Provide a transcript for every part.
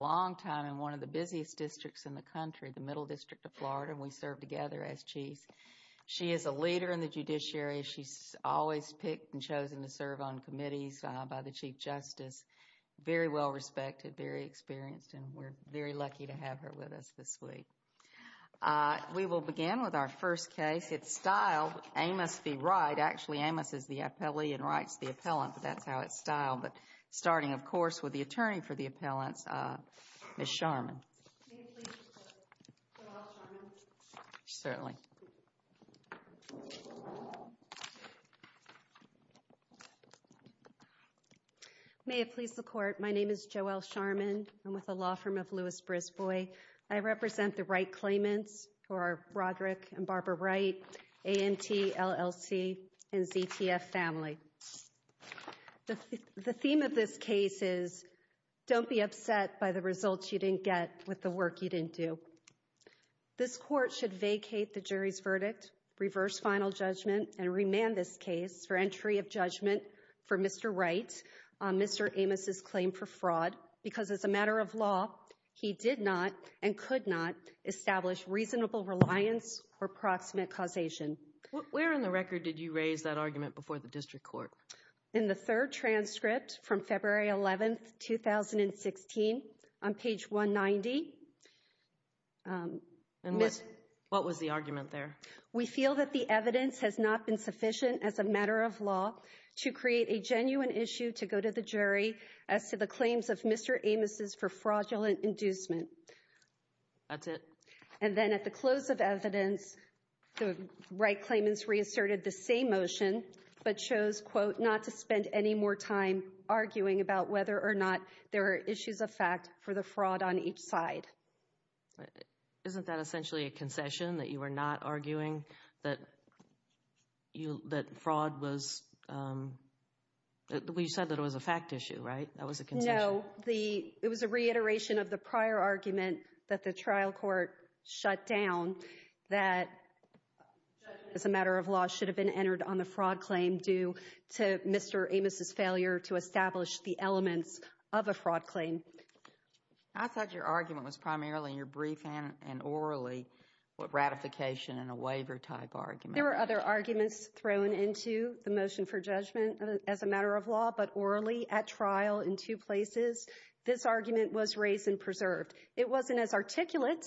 Long time in one of the busiest districts in the country, the Middle District of Florida. We serve together as Chiefs. She is a leader in the judiciary. She's always picked and chosen to serve on committees by the Chief Justice. Very well respected, very experienced, and we're very lucky to have her with us this week. We will begin with our first case. It's styled Amos v. Wright. Actually, Amos is the appellee and Wright's the appellant, but that's how it's styled. Starting, of course, with the attorney for the appellants, Ms. Sharman. May it please the Court, my name is Joelle Sharman. I'm with the law firm of Lewis-Brisbois. I represent the Wright claimants who are Roderick and Barbara Wright, ANT, LLC, and ZTF Family. The theme of this case is don't be upset by the results you didn't get with the work you didn't do. This Court should vacate the jury's verdict, reverse final judgment, and remand this case for entry of judgment for Mr. Wright, Mr. Amos' claim for fraud, because as a matter of law, he did not and could not establish reasonable reliance or proximate causation. Where in the record did you raise that argument before the district court? In the third transcript from February 11, 2016, on page 190. What was the argument there? We feel that the evidence has not been sufficient as a matter of law to create a genuine issue to go to the jury as to the claims of Mr. Amos' for fraudulent inducement. That's it? And then at the close of evidence, the Wright claimants reasserted the same motion, but chose, quote, not to spend any more time arguing about whether or not there are issues of fact for the fraud on each side. Isn't that essentially a concession, that you were not arguing that fraud was— you said that it was a fact issue, right? That was a concession. So it was a reiteration of the prior argument that the trial court shut down, that judgment as a matter of law should have been entered on the fraud claim due to Mr. Amos' failure to establish the elements of a fraud claim. I thought your argument was primarily in your brief and orally ratification and a waiver type argument. There were other arguments thrown into the motion for judgment as a matter of law, but orally at trial in two places, this argument was raised and preserved. It wasn't as articulate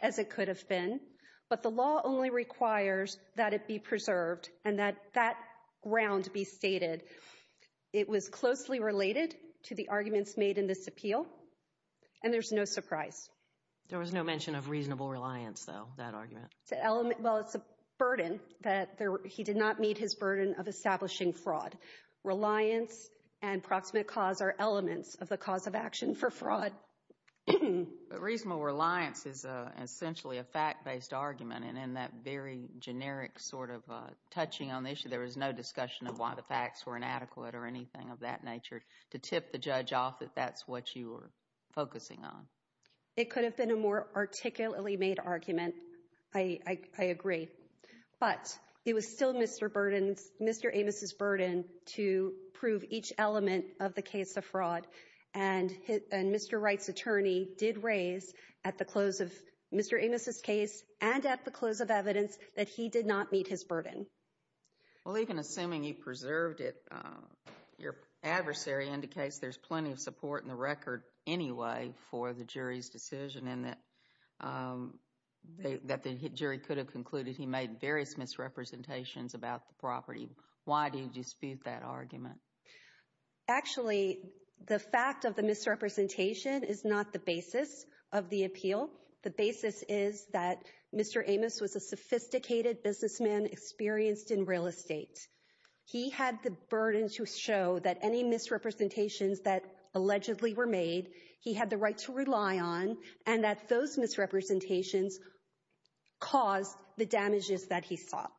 as it could have been, but the law only requires that it be preserved and that that ground be stated. It was closely related to the arguments made in this appeal, and there's no surprise. There was no mention of reasonable reliance, though, that argument. Well, it's a burden that he did not meet his burden of establishing fraud. Reliance and proximate cause are elements of the cause of action for fraud. Reasonable reliance is essentially a fact-based argument, and in that very generic sort of touching on the issue, there was no discussion of why the facts were inadequate or anything of that nature to tip the judge off that that's what you were focusing on. It could have been a more articulately made argument, I agree. But it was still Mr. Amos' burden to prove each element of the case of fraud, and Mr. Wright's attorney did raise at the close of Mr. Amos' case and at the close of evidence that he did not meet his burden. Well, even assuming he preserved it, your adversary indicates there's plenty of support in the record anyway for the jury's decision and that the jury could have concluded he made various misrepresentations about the property. Why do you dispute that argument? Actually, the fact of the misrepresentation is not the basis of the appeal. The basis is that Mr. Amos was a sophisticated businessman experienced in real estate. He had the burden to show that any misrepresentations that allegedly were made, he had the right to rely on, and that those misrepresentations caused the damages that he sought.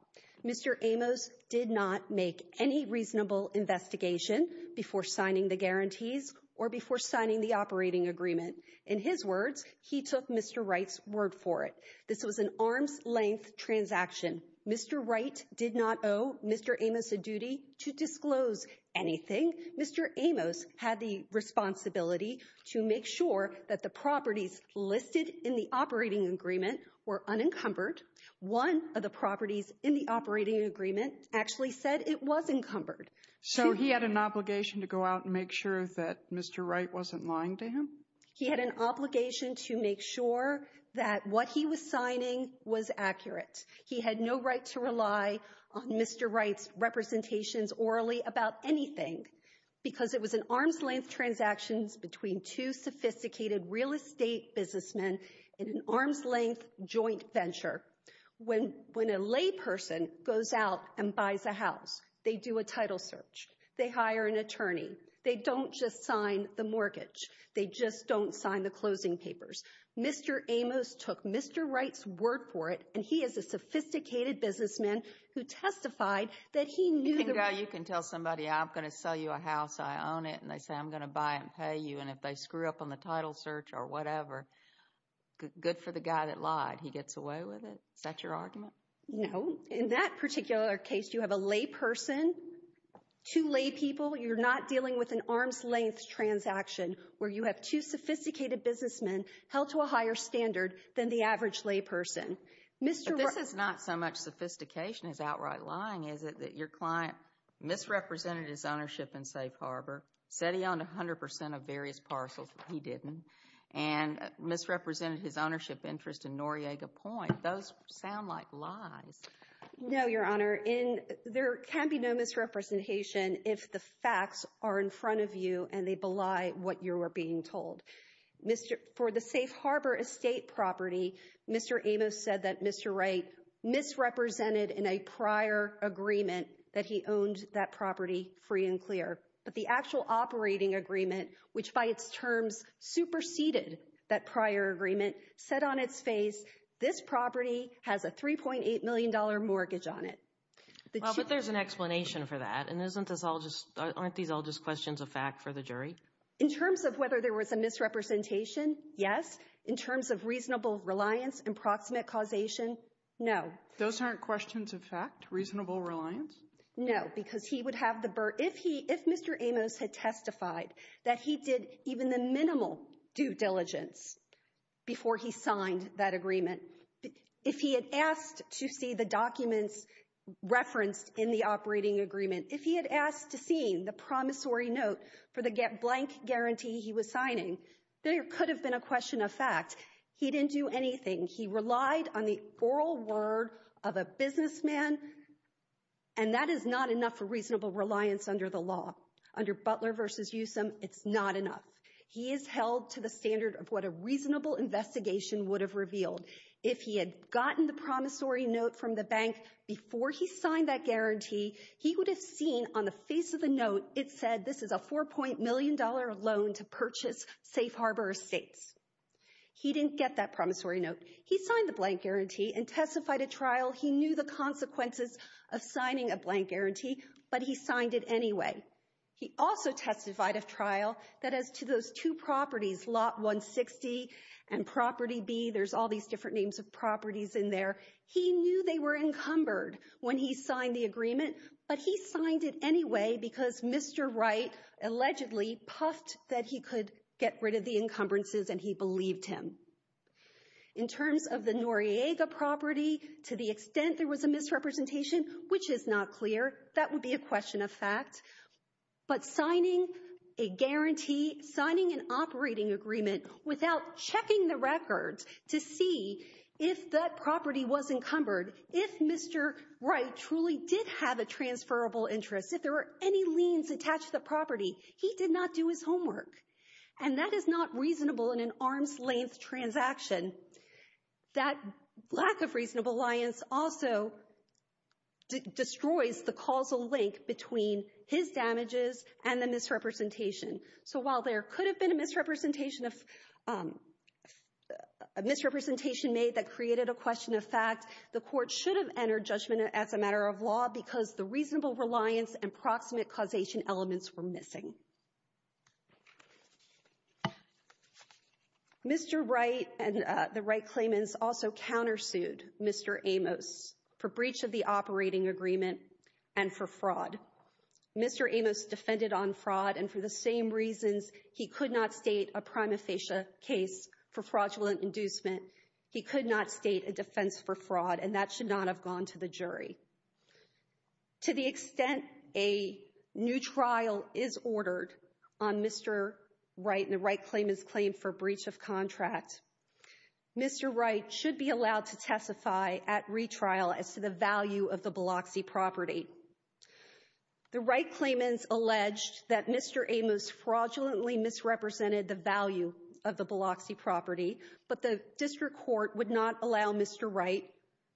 Mr. Amos did not make any reasonable investigation before signing the guarantees or before signing the operating agreement. In his words, he took Mr. Wright's word for it. This was an arm's-length transaction. Mr. Wright did not owe Mr. Amos a duty to disclose anything. Mr. Amos had the responsibility to make sure that the properties listed in the operating agreement were unencumbered. One of the properties in the operating agreement actually said it was encumbered. So he had an obligation to go out and make sure that Mr. Wright wasn't lying to him? He had an obligation to make sure that what he was signing was accurate. He had no right to rely on Mr. Wright's representations orally about anything because it was an arm's-length transaction between two sophisticated real estate businessmen in an arm's-length joint venture. When a layperson goes out and buys a house, they do a title search. They hire an attorney. They don't just sign the mortgage. They just don't sign the closing papers. Mr. Amos took Mr. Wright's word for it, and he is a sophisticated businessman who testified that he knew the right— You can tell somebody, I'm going to sell you a house. I own it. And they say, I'm going to buy it and pay you. And if they screw up on the title search or whatever, good for the guy that lied. He gets away with it. Is that your argument? No. In that particular case, you have a layperson, two laypeople. You're not dealing with an arm's-length transaction where you have two sophisticated businessmen held to a higher standard than the average layperson. But this is not so much sophistication as outright lying, is it, that your client misrepresented his ownership in Safe Harbor, said he owned 100 percent of various parcels, but he didn't, and misrepresented his ownership interest in Noriega Point. Those sound like lies. No, Your Honor. There can be no misrepresentation if the facts are in front of you and they belie what you are being told. For the Safe Harbor estate property, Mr. Amos said that Mr. Wright misrepresented in a prior agreement that he owned that property free and clear. But the actual operating agreement, which by its terms superseded that prior agreement, said on its face, this property has a $3.8 million mortgage on it. But there's an explanation for that. And aren't these all just questions of fact for the jury? In terms of whether there was a misrepresentation, yes. In terms of reasonable reliance, approximate causation, no. Those aren't questions of fact, reasonable reliance? No, because he would have the – if Mr. Amos had testified that he did even the minimal due diligence before he signed that agreement, if he had asked to see the documents referenced in the operating agreement, if he had asked to see the promissory note for the blank guarantee he was signing, there could have been a question of fact. He didn't do anything. He relied on the oral word of a businessman, and that is not enough for reasonable reliance under the law. Under Butler v. Usom, it's not enough. He is held to the standard of what a reasonable investigation would have revealed. If he had gotten the promissory note from the bank before he signed that guarantee, he would have seen on the face of the note it said this is a $4. million loan to purchase Safe Harbor Estates. He didn't get that promissory note. He signed the blank guarantee and testified at trial he knew the consequences of signing a blank guarantee, but he signed it anyway. He also testified at trial that as to those two properties, Lot 160 and Property B, there's all these different names of properties in there, he knew they were encumbered when he signed the agreement, but he signed it anyway because Mr. Wright allegedly puffed that he could get rid of the encumbrances, and he believed him. In terms of the Noriega property, to the extent there was a misrepresentation, which is not clear, that would be a question of fact, but signing a guarantee, signing an operating agreement, without checking the records to see if that property was encumbered, if Mr. Wright truly did have a transferable interest, if there were any liens attached to the property, he did not do his homework, and that is not reasonable in an arm's-length transaction. That lack of reasonable liens also destroys the causal link between his damages and the misrepresentation. So while there could have been a misrepresentation made that created a question of fact, the Court should have entered judgment as a matter of law because the reasonable reliance and proximate causation elements were missing. Mr. Wright and the Wright claimants also countersued Mr. Amos for breach of the operating agreement and for fraud. Mr. Amos defended on fraud, and for the same reasons he could not state a prima facie case for fraudulent inducement, he could not state a defense for fraud, and that should not have gone to the jury. To the extent a new trial is ordered on Mr. Wright and the Wright claimants' claim for breach of contract, Mr. Wright should be allowed to testify at retrial as to the value of the Biloxi property. The Wright claimants alleged that Mr. Amos fraudulently misrepresented the value of the Biloxi property, but the District Court would not allow Mr. Wright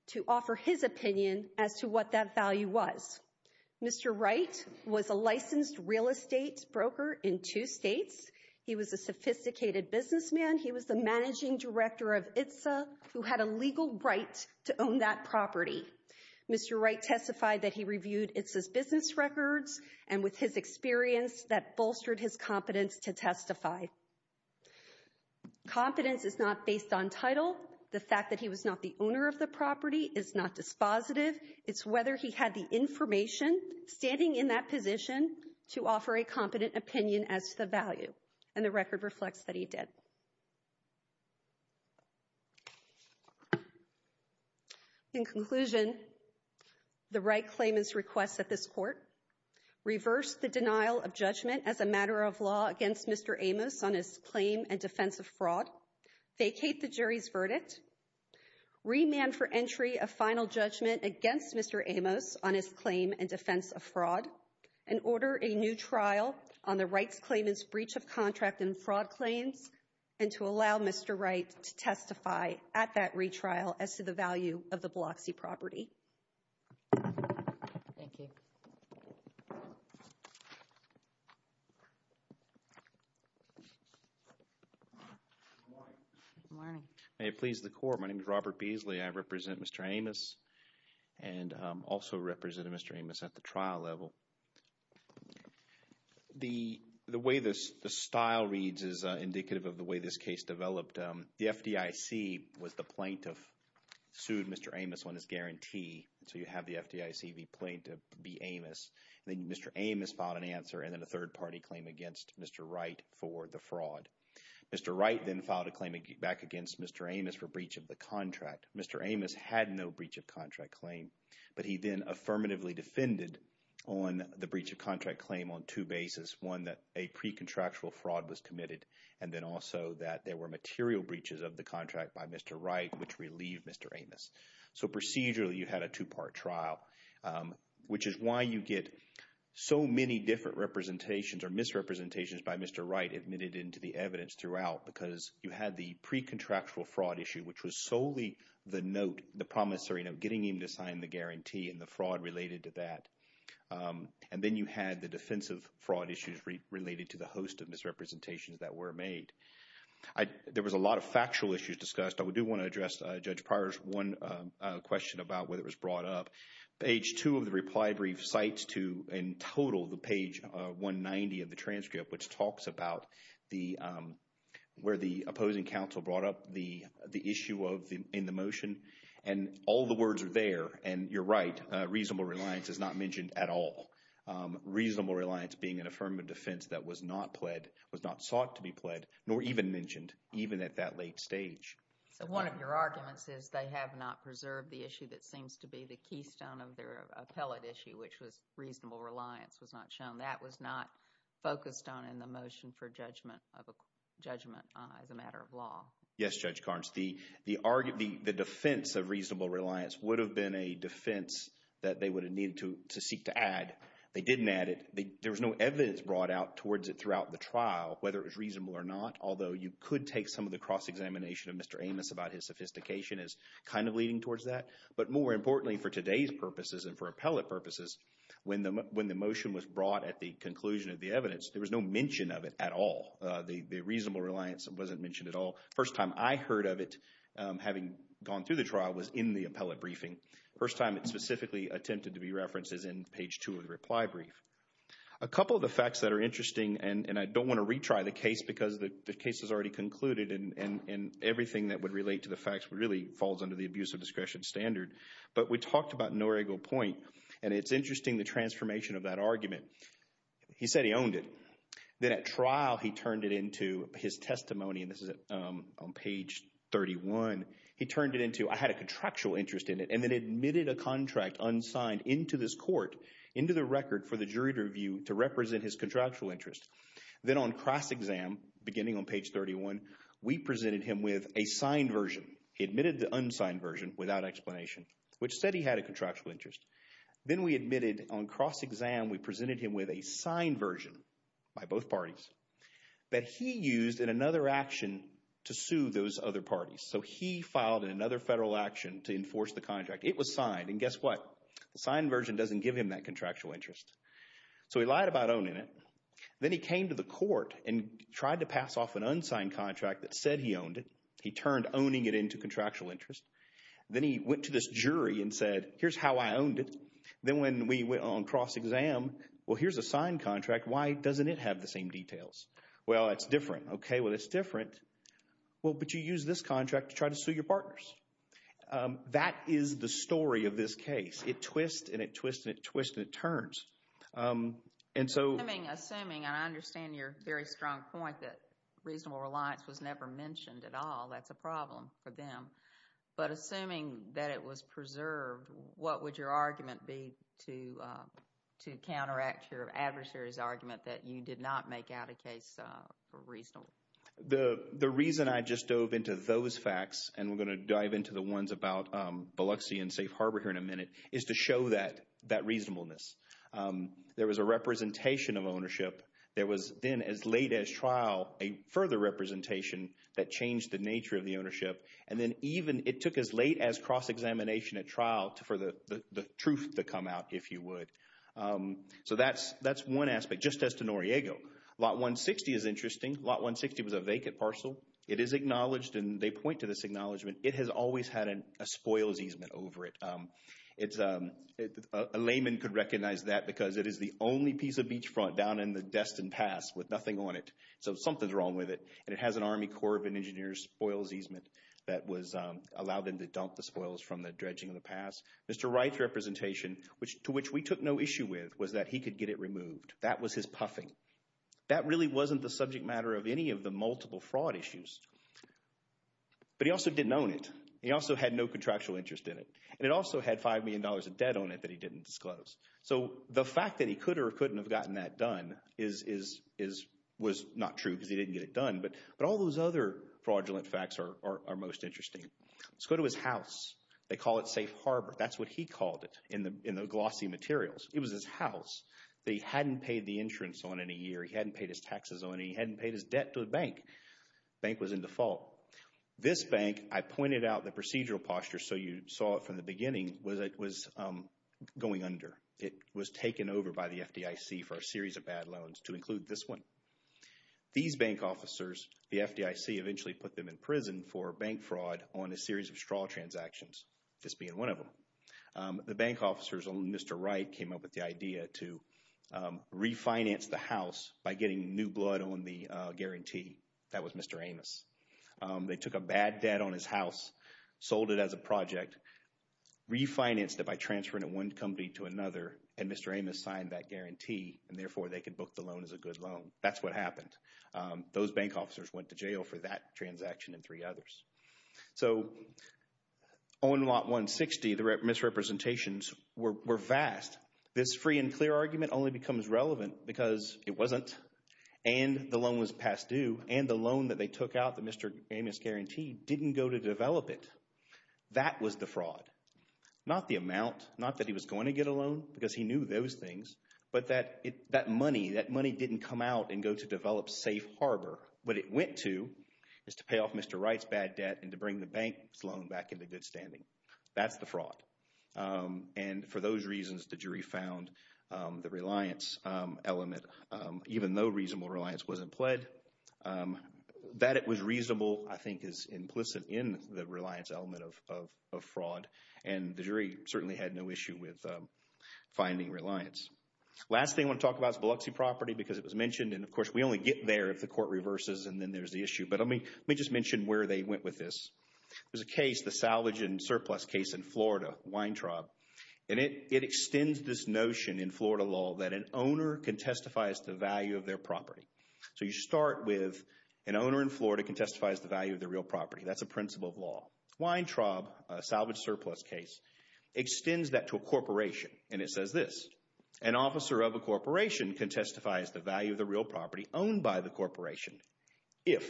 to offer his opinion as to what that value was. Mr. Wright was a licensed real estate broker in two states. He was a sophisticated businessman. He was the managing director of ITSA who had a legal right to own that property. Mr. Wright testified that he reviewed ITSA's business records, and with his experience, that bolstered his competence to testify. Competence is not based on title. The fact that he was not the owner of the property is not dispositive. It's whether he had the information standing in that position to offer a competent opinion as to the value, and the record reflects that he did. In conclusion, the Wright claimants' request that this court reverse the denial of judgment as a matter of law against Mr. Amos on his claim and defense of fraud, vacate the jury's verdict, remand for entry a final judgment against Mr. Amos on his claim and defense of fraud, and order a new trial on the Wright claimants' breach of contract and fraud claims, and to allow Mr. Wright to testify at that retrial as to the value of the Biloxi property. Thank you. Good morning. Good morning. May it please the Court, my name is Robert Beasley. I represent Mr. Amos and also represented Mr. Amos at the trial level. The way this style reads is indicative of the way this case developed. The FDIC was the plaintiff, sued Mr. Amos on his guarantee, so you have the FDIC, the plaintiff, be Amos, and then Mr. Amos filed an answer and then a third-party claim against Mr. Wright for the fraud. Mr. Wright then filed a claim back against Mr. Amos for breach of the contract. Mr. Amos had no breach of contract claim, but he then affirmatively defended on the breach of contract claim on two bases, one that a pre-contractual fraud was committed, and then also that there were material breaches of the contract by Mr. Wright which relieved Mr. Amos. So procedurally you had a two-part trial, which is why you get so many different representations or misrepresentations by Mr. Wright admitted into the evidence throughout because you had the pre-contractual fraud issue, which was solely the note, the promissory note, getting him to sign the guarantee and the fraud related to that. And then you had the defensive fraud issues related to the host of misrepresentations that were made. There was a lot of factual issues discussed. I do want to address Judge Pryor's one question about whether it was brought up. Page two of the reply brief cites to in total the page 190 of the transcript, which talks about where the opposing counsel brought up the issue in the motion. And all the words are there, and you're right, reasonable reliance is not mentioned at all. Reasonable reliance being an affirmative defense that was not pled, was not sought to be pled, nor even mentioned even at that late stage. So one of your arguments is they have not preserved the issue that seems to be the keystone of their appellate issue, which was reasonable reliance was not shown. That was not focused on in the motion for judgment as a matter of law. Yes, Judge Carnes. The defense of reasonable reliance would have been a defense that they would have needed to seek to add. They didn't add it. There was no evidence brought out towards it throughout the trial, whether it was reasonable or not, although you could take some of the cross-examination of Mr. Amos about his sophistication as kind of leading towards that. But more importantly, for today's purposes and for appellate purposes, when the motion was brought at the conclusion of the evidence, there was no mention of it at all. The reasonable reliance wasn't mentioned at all. First time I heard of it, having gone through the trial, was in the appellate briefing. First time it specifically attempted to be referenced is in page 2 of the reply brief. A couple of the facts that are interesting, and I don't want to retry the case because the case is already concluded and everything that would relate to the facts really falls under the abuse of discretion standard, but we talked about Norigo Point, and it's interesting the transformation of that argument. He said he owned it. Then at trial he turned it into his testimony, and this is on page 31. He turned it into I had a contractual interest in it and then admitted a contract unsigned into this court, into the record for the jury to review to represent his contractual interest. Then on cross-exam, beginning on page 31, we presented him with a signed version. He admitted the unsigned version without explanation, which said he had a contractual interest. Then we admitted on cross-exam we presented him with a signed version by both parties that he used in another action to sue those other parties. So he filed in another federal action to enforce the contract. It was signed, and guess what? The signed version doesn't give him that contractual interest. So he lied about owning it. Then he came to the court and tried to pass off an unsigned contract that said he owned it. He turned owning it into contractual interest. Then he went to this jury and said, here's how I owned it. Then when we went on cross-exam, well, here's a signed contract. Why doesn't it have the same details? Well, it's different. Okay, well, it's different. Well, but you used this contract to try to sue your partners. That is the story of this case. It twists and it twists and it twists and it turns. And so— Assuming, and I understand your very strong point that reasonable reliance was never mentioned at all. That's a problem for them. But assuming that it was preserved, what would your argument be to counteract your adversary's argument that you did not make out a case for reasonable? The reason I just dove into those facts, and we're going to dive into the ones about Biloxi and Safe Harbor here in a minute, is to show that reasonableness. There was a representation of ownership. There was then, as late as trial, a further representation that changed the nature of the ownership. And then even it took as late as cross-examination at trial for the truth to come out, if you would. So that's one aspect. Just as to Noriego, Lot 160 is interesting. Lot 160 was a vacant parcel. It is acknowledged, and they point to this acknowledgement, it has always had a spoils easement over it. A layman could recognize that because it is the only piece of beachfront down in the Destin Pass with nothing on it. So something's wrong with it. And it has an Army Corps of Engineers spoils easement that allowed them to dump the spoils from the dredging of the pass. Mr. Wright's representation, to which we took no issue with, was that he could get it removed. That was his puffing. That really wasn't the subject matter of any of the multiple fraud issues. But he also didn't own it. He also had no contractual interest in it. And it also had $5 million of debt on it that he didn't disclose. So the fact that he could or couldn't have gotten that done was not true because he didn't get it done. But all those other fraudulent facts are most interesting. Let's go to his house. They call it Safe Harbor. That's what he called it in the glossy materials. It was his house that he hadn't paid the insurance on in a year. He hadn't paid his taxes on it. He hadn't paid his debt to the bank. The bank was in default. This bank, I pointed out the procedural posture so you saw it from the beginning, was going under. It was taken over by the FDIC for a series of bad loans to include this one. These bank officers, the FDIC eventually put them in prison for bank fraud on a series of straw transactions, this being one of them. The bank officers, Mr. Wright came up with the idea to refinance the house by getting new blood on the guarantee. That was Mr. Amos. They took a bad debt on his house, sold it as a project, refinanced it by transferring it from one company to another, and Mr. Amos signed that guarantee, and therefore they could book the loan as a good loan. That's what happened. Those bank officers went to jail for that transaction and three others. So on lot 160, the misrepresentations were vast. This free and clear argument only becomes relevant because it wasn't, and the loan was past due, and the loan that they took out that Mr. Amos guaranteed didn't go to develop it. That was the fraud. Not the amount, not that he was going to get a loan because he knew those things, but that money, that money didn't come out and go to develop Safe Harbor. What it went to is to pay off Mr. Wright's bad debt and to bring the bank's loan back into good standing. That's the fraud. And for those reasons, the jury found the reliance element, even though reasonable reliance wasn't pled. That it was reasonable, I think, is implicit in the reliance element of fraud, and the jury certainly had no issue with finding reliance. Last thing I want to talk about is Biloxi property because it was mentioned, and, of course, we only get there if the court reverses and then there's the issue. But let me just mention where they went with this. There's a case, the salvage and surplus case in Florida, Weintraub, and it extends this notion in Florida law that an owner can testify as to the value of their property. So you start with an owner in Florida can testify as to the value of their real property. That's a principle of law. Weintraub, a salvage surplus case, extends that to a corporation, and it says this. An officer of a corporation can testify as to the value of the real property owned by the corporation if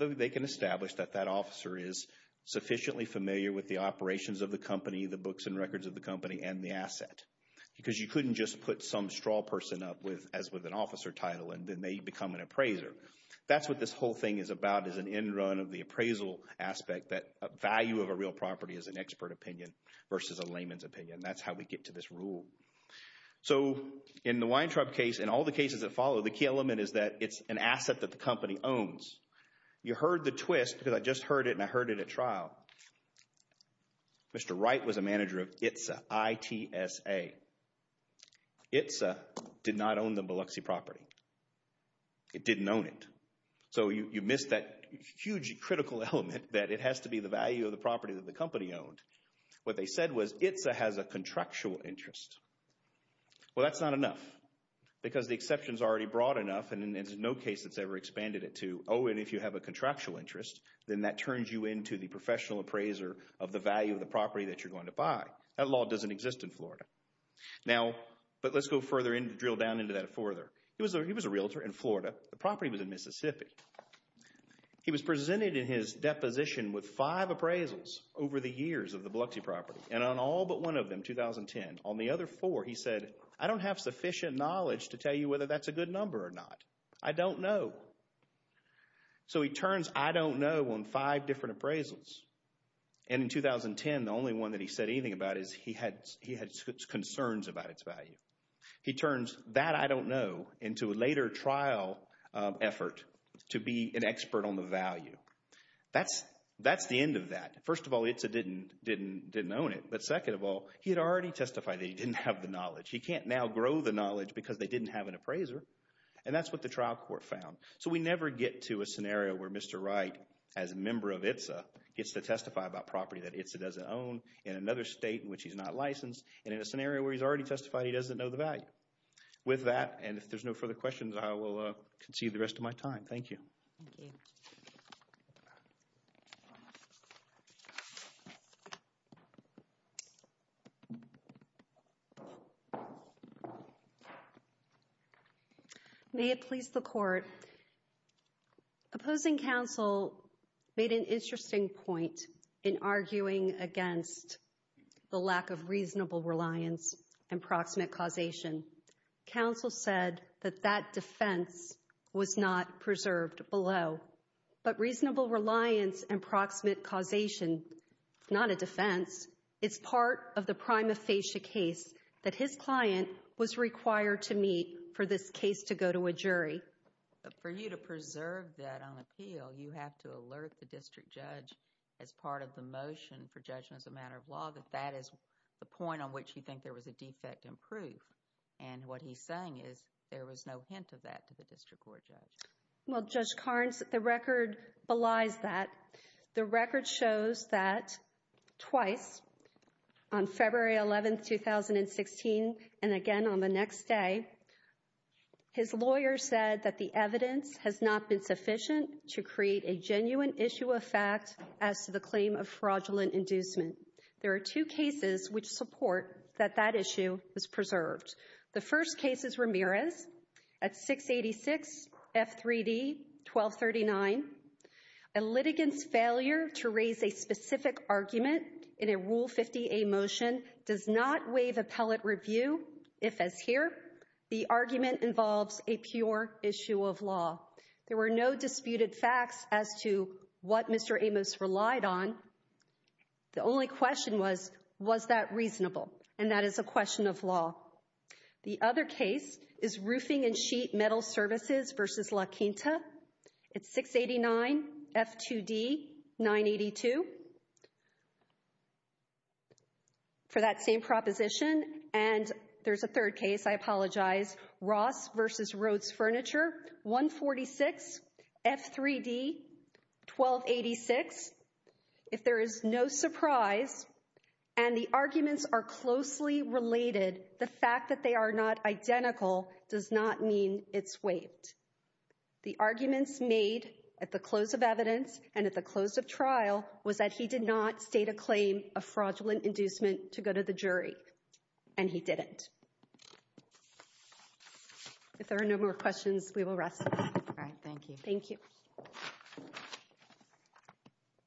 they can establish that that officer is sufficiently familiar with the operations of the company, the books and records of the company, and the asset. Because you couldn't just put some straw person up as with an officer title, and then they become an appraiser. That's what this whole thing is about is an end run of the appraisal aspect, that value of a real property is an expert opinion versus a layman's opinion. That's how we get to this rule. So in the Weintraub case and all the cases that follow, the key element is that it's an asset that the company owns. You heard the twist because I just heard it, and I heard it at trial. Mr. Wright was a manager of ITSA, I-T-S-A. ITSA did not own the Biloxi property. It didn't own it. So you missed that huge critical element that it has to be the value of the property that the company owned. What they said was ITSA has a contractual interest. Well, that's not enough because the exception is already broad enough, and there's no case that's ever expanded it to, oh, and if you have a contractual interest, then that turns you into the professional appraiser of the value of the property that you're going to buy. That law doesn't exist in Florida. Now, but let's go further in, drill down into that further. The property was in Mississippi. He was presented in his deposition with five appraisals over the years of the Biloxi property, and on all but one of them, 2010, on the other four, he said, I don't have sufficient knowledge to tell you whether that's a good number or not. I don't know. So he turns I don't know on five different appraisals, and in 2010, the only one that he said anything about is he had concerns about its value. He turns that I don't know into a later trial effort to be an expert on the value. That's the end of that. First of all, ITSA didn't own it, but second of all, he had already testified that he didn't have the knowledge. He can't now grow the knowledge because they didn't have an appraiser, and that's what the trial court found. So we never get to a scenario where Mr. Wright, as a member of ITSA, gets to testify about property that ITSA doesn't own in another state in which he's not licensed, and in a scenario where he's already testified, he doesn't know the value. With that, and if there's no further questions, I will concede the rest of my time. Thank you. May it please the Court. Opposing counsel made an interesting point in arguing against the lack of reasonable reliance and proximate causation. Counsel said that that defense was not preserved below. But reasonable reliance and proximate causation is not a defense. It's part of the prima facie case that his client was required to meet for this case to go to a jury. For you to preserve that on appeal, you have to alert the district judge as part of the motion for judgment as a matter of law that that is the point on which you think there was a defect in proof. And what he's saying is there was no hint of that to the district court judge. Well, Judge Carnes, the record belies that. The record shows that twice, on February 11, 2016, and again on the next day, his lawyer said that the evidence has not been sufficient to create a genuine issue of fact as to the claim of fraudulent inducement. There are two cases which support that that issue is preserved. The first case is Ramirez at 686 F3D 1239. A litigant's failure to raise a specific argument in a Rule 50A motion does not waive appellate review if, as here, the argument involves a pure issue of law. There were no disputed facts as to what Mr. Amos relied on. The only question was, was that reasonable? And that is a question of law. The other case is Roofing and Sheet Metal Services v. La Quinta at 689 F2D 982. For that same proposition, and there's a third case, I apologize, Ross v. Rhodes Furniture 146 F3D 1286. If there is no surprise and the arguments are closely related, the fact that they are not identical does not mean it's waived. The arguments made at the close of evidence and at the close of trial was that he did not state a claim of fraudulent inducement to go to the jury, and he didn't. If there are no more questions, we will rest. Thank you. Thank you.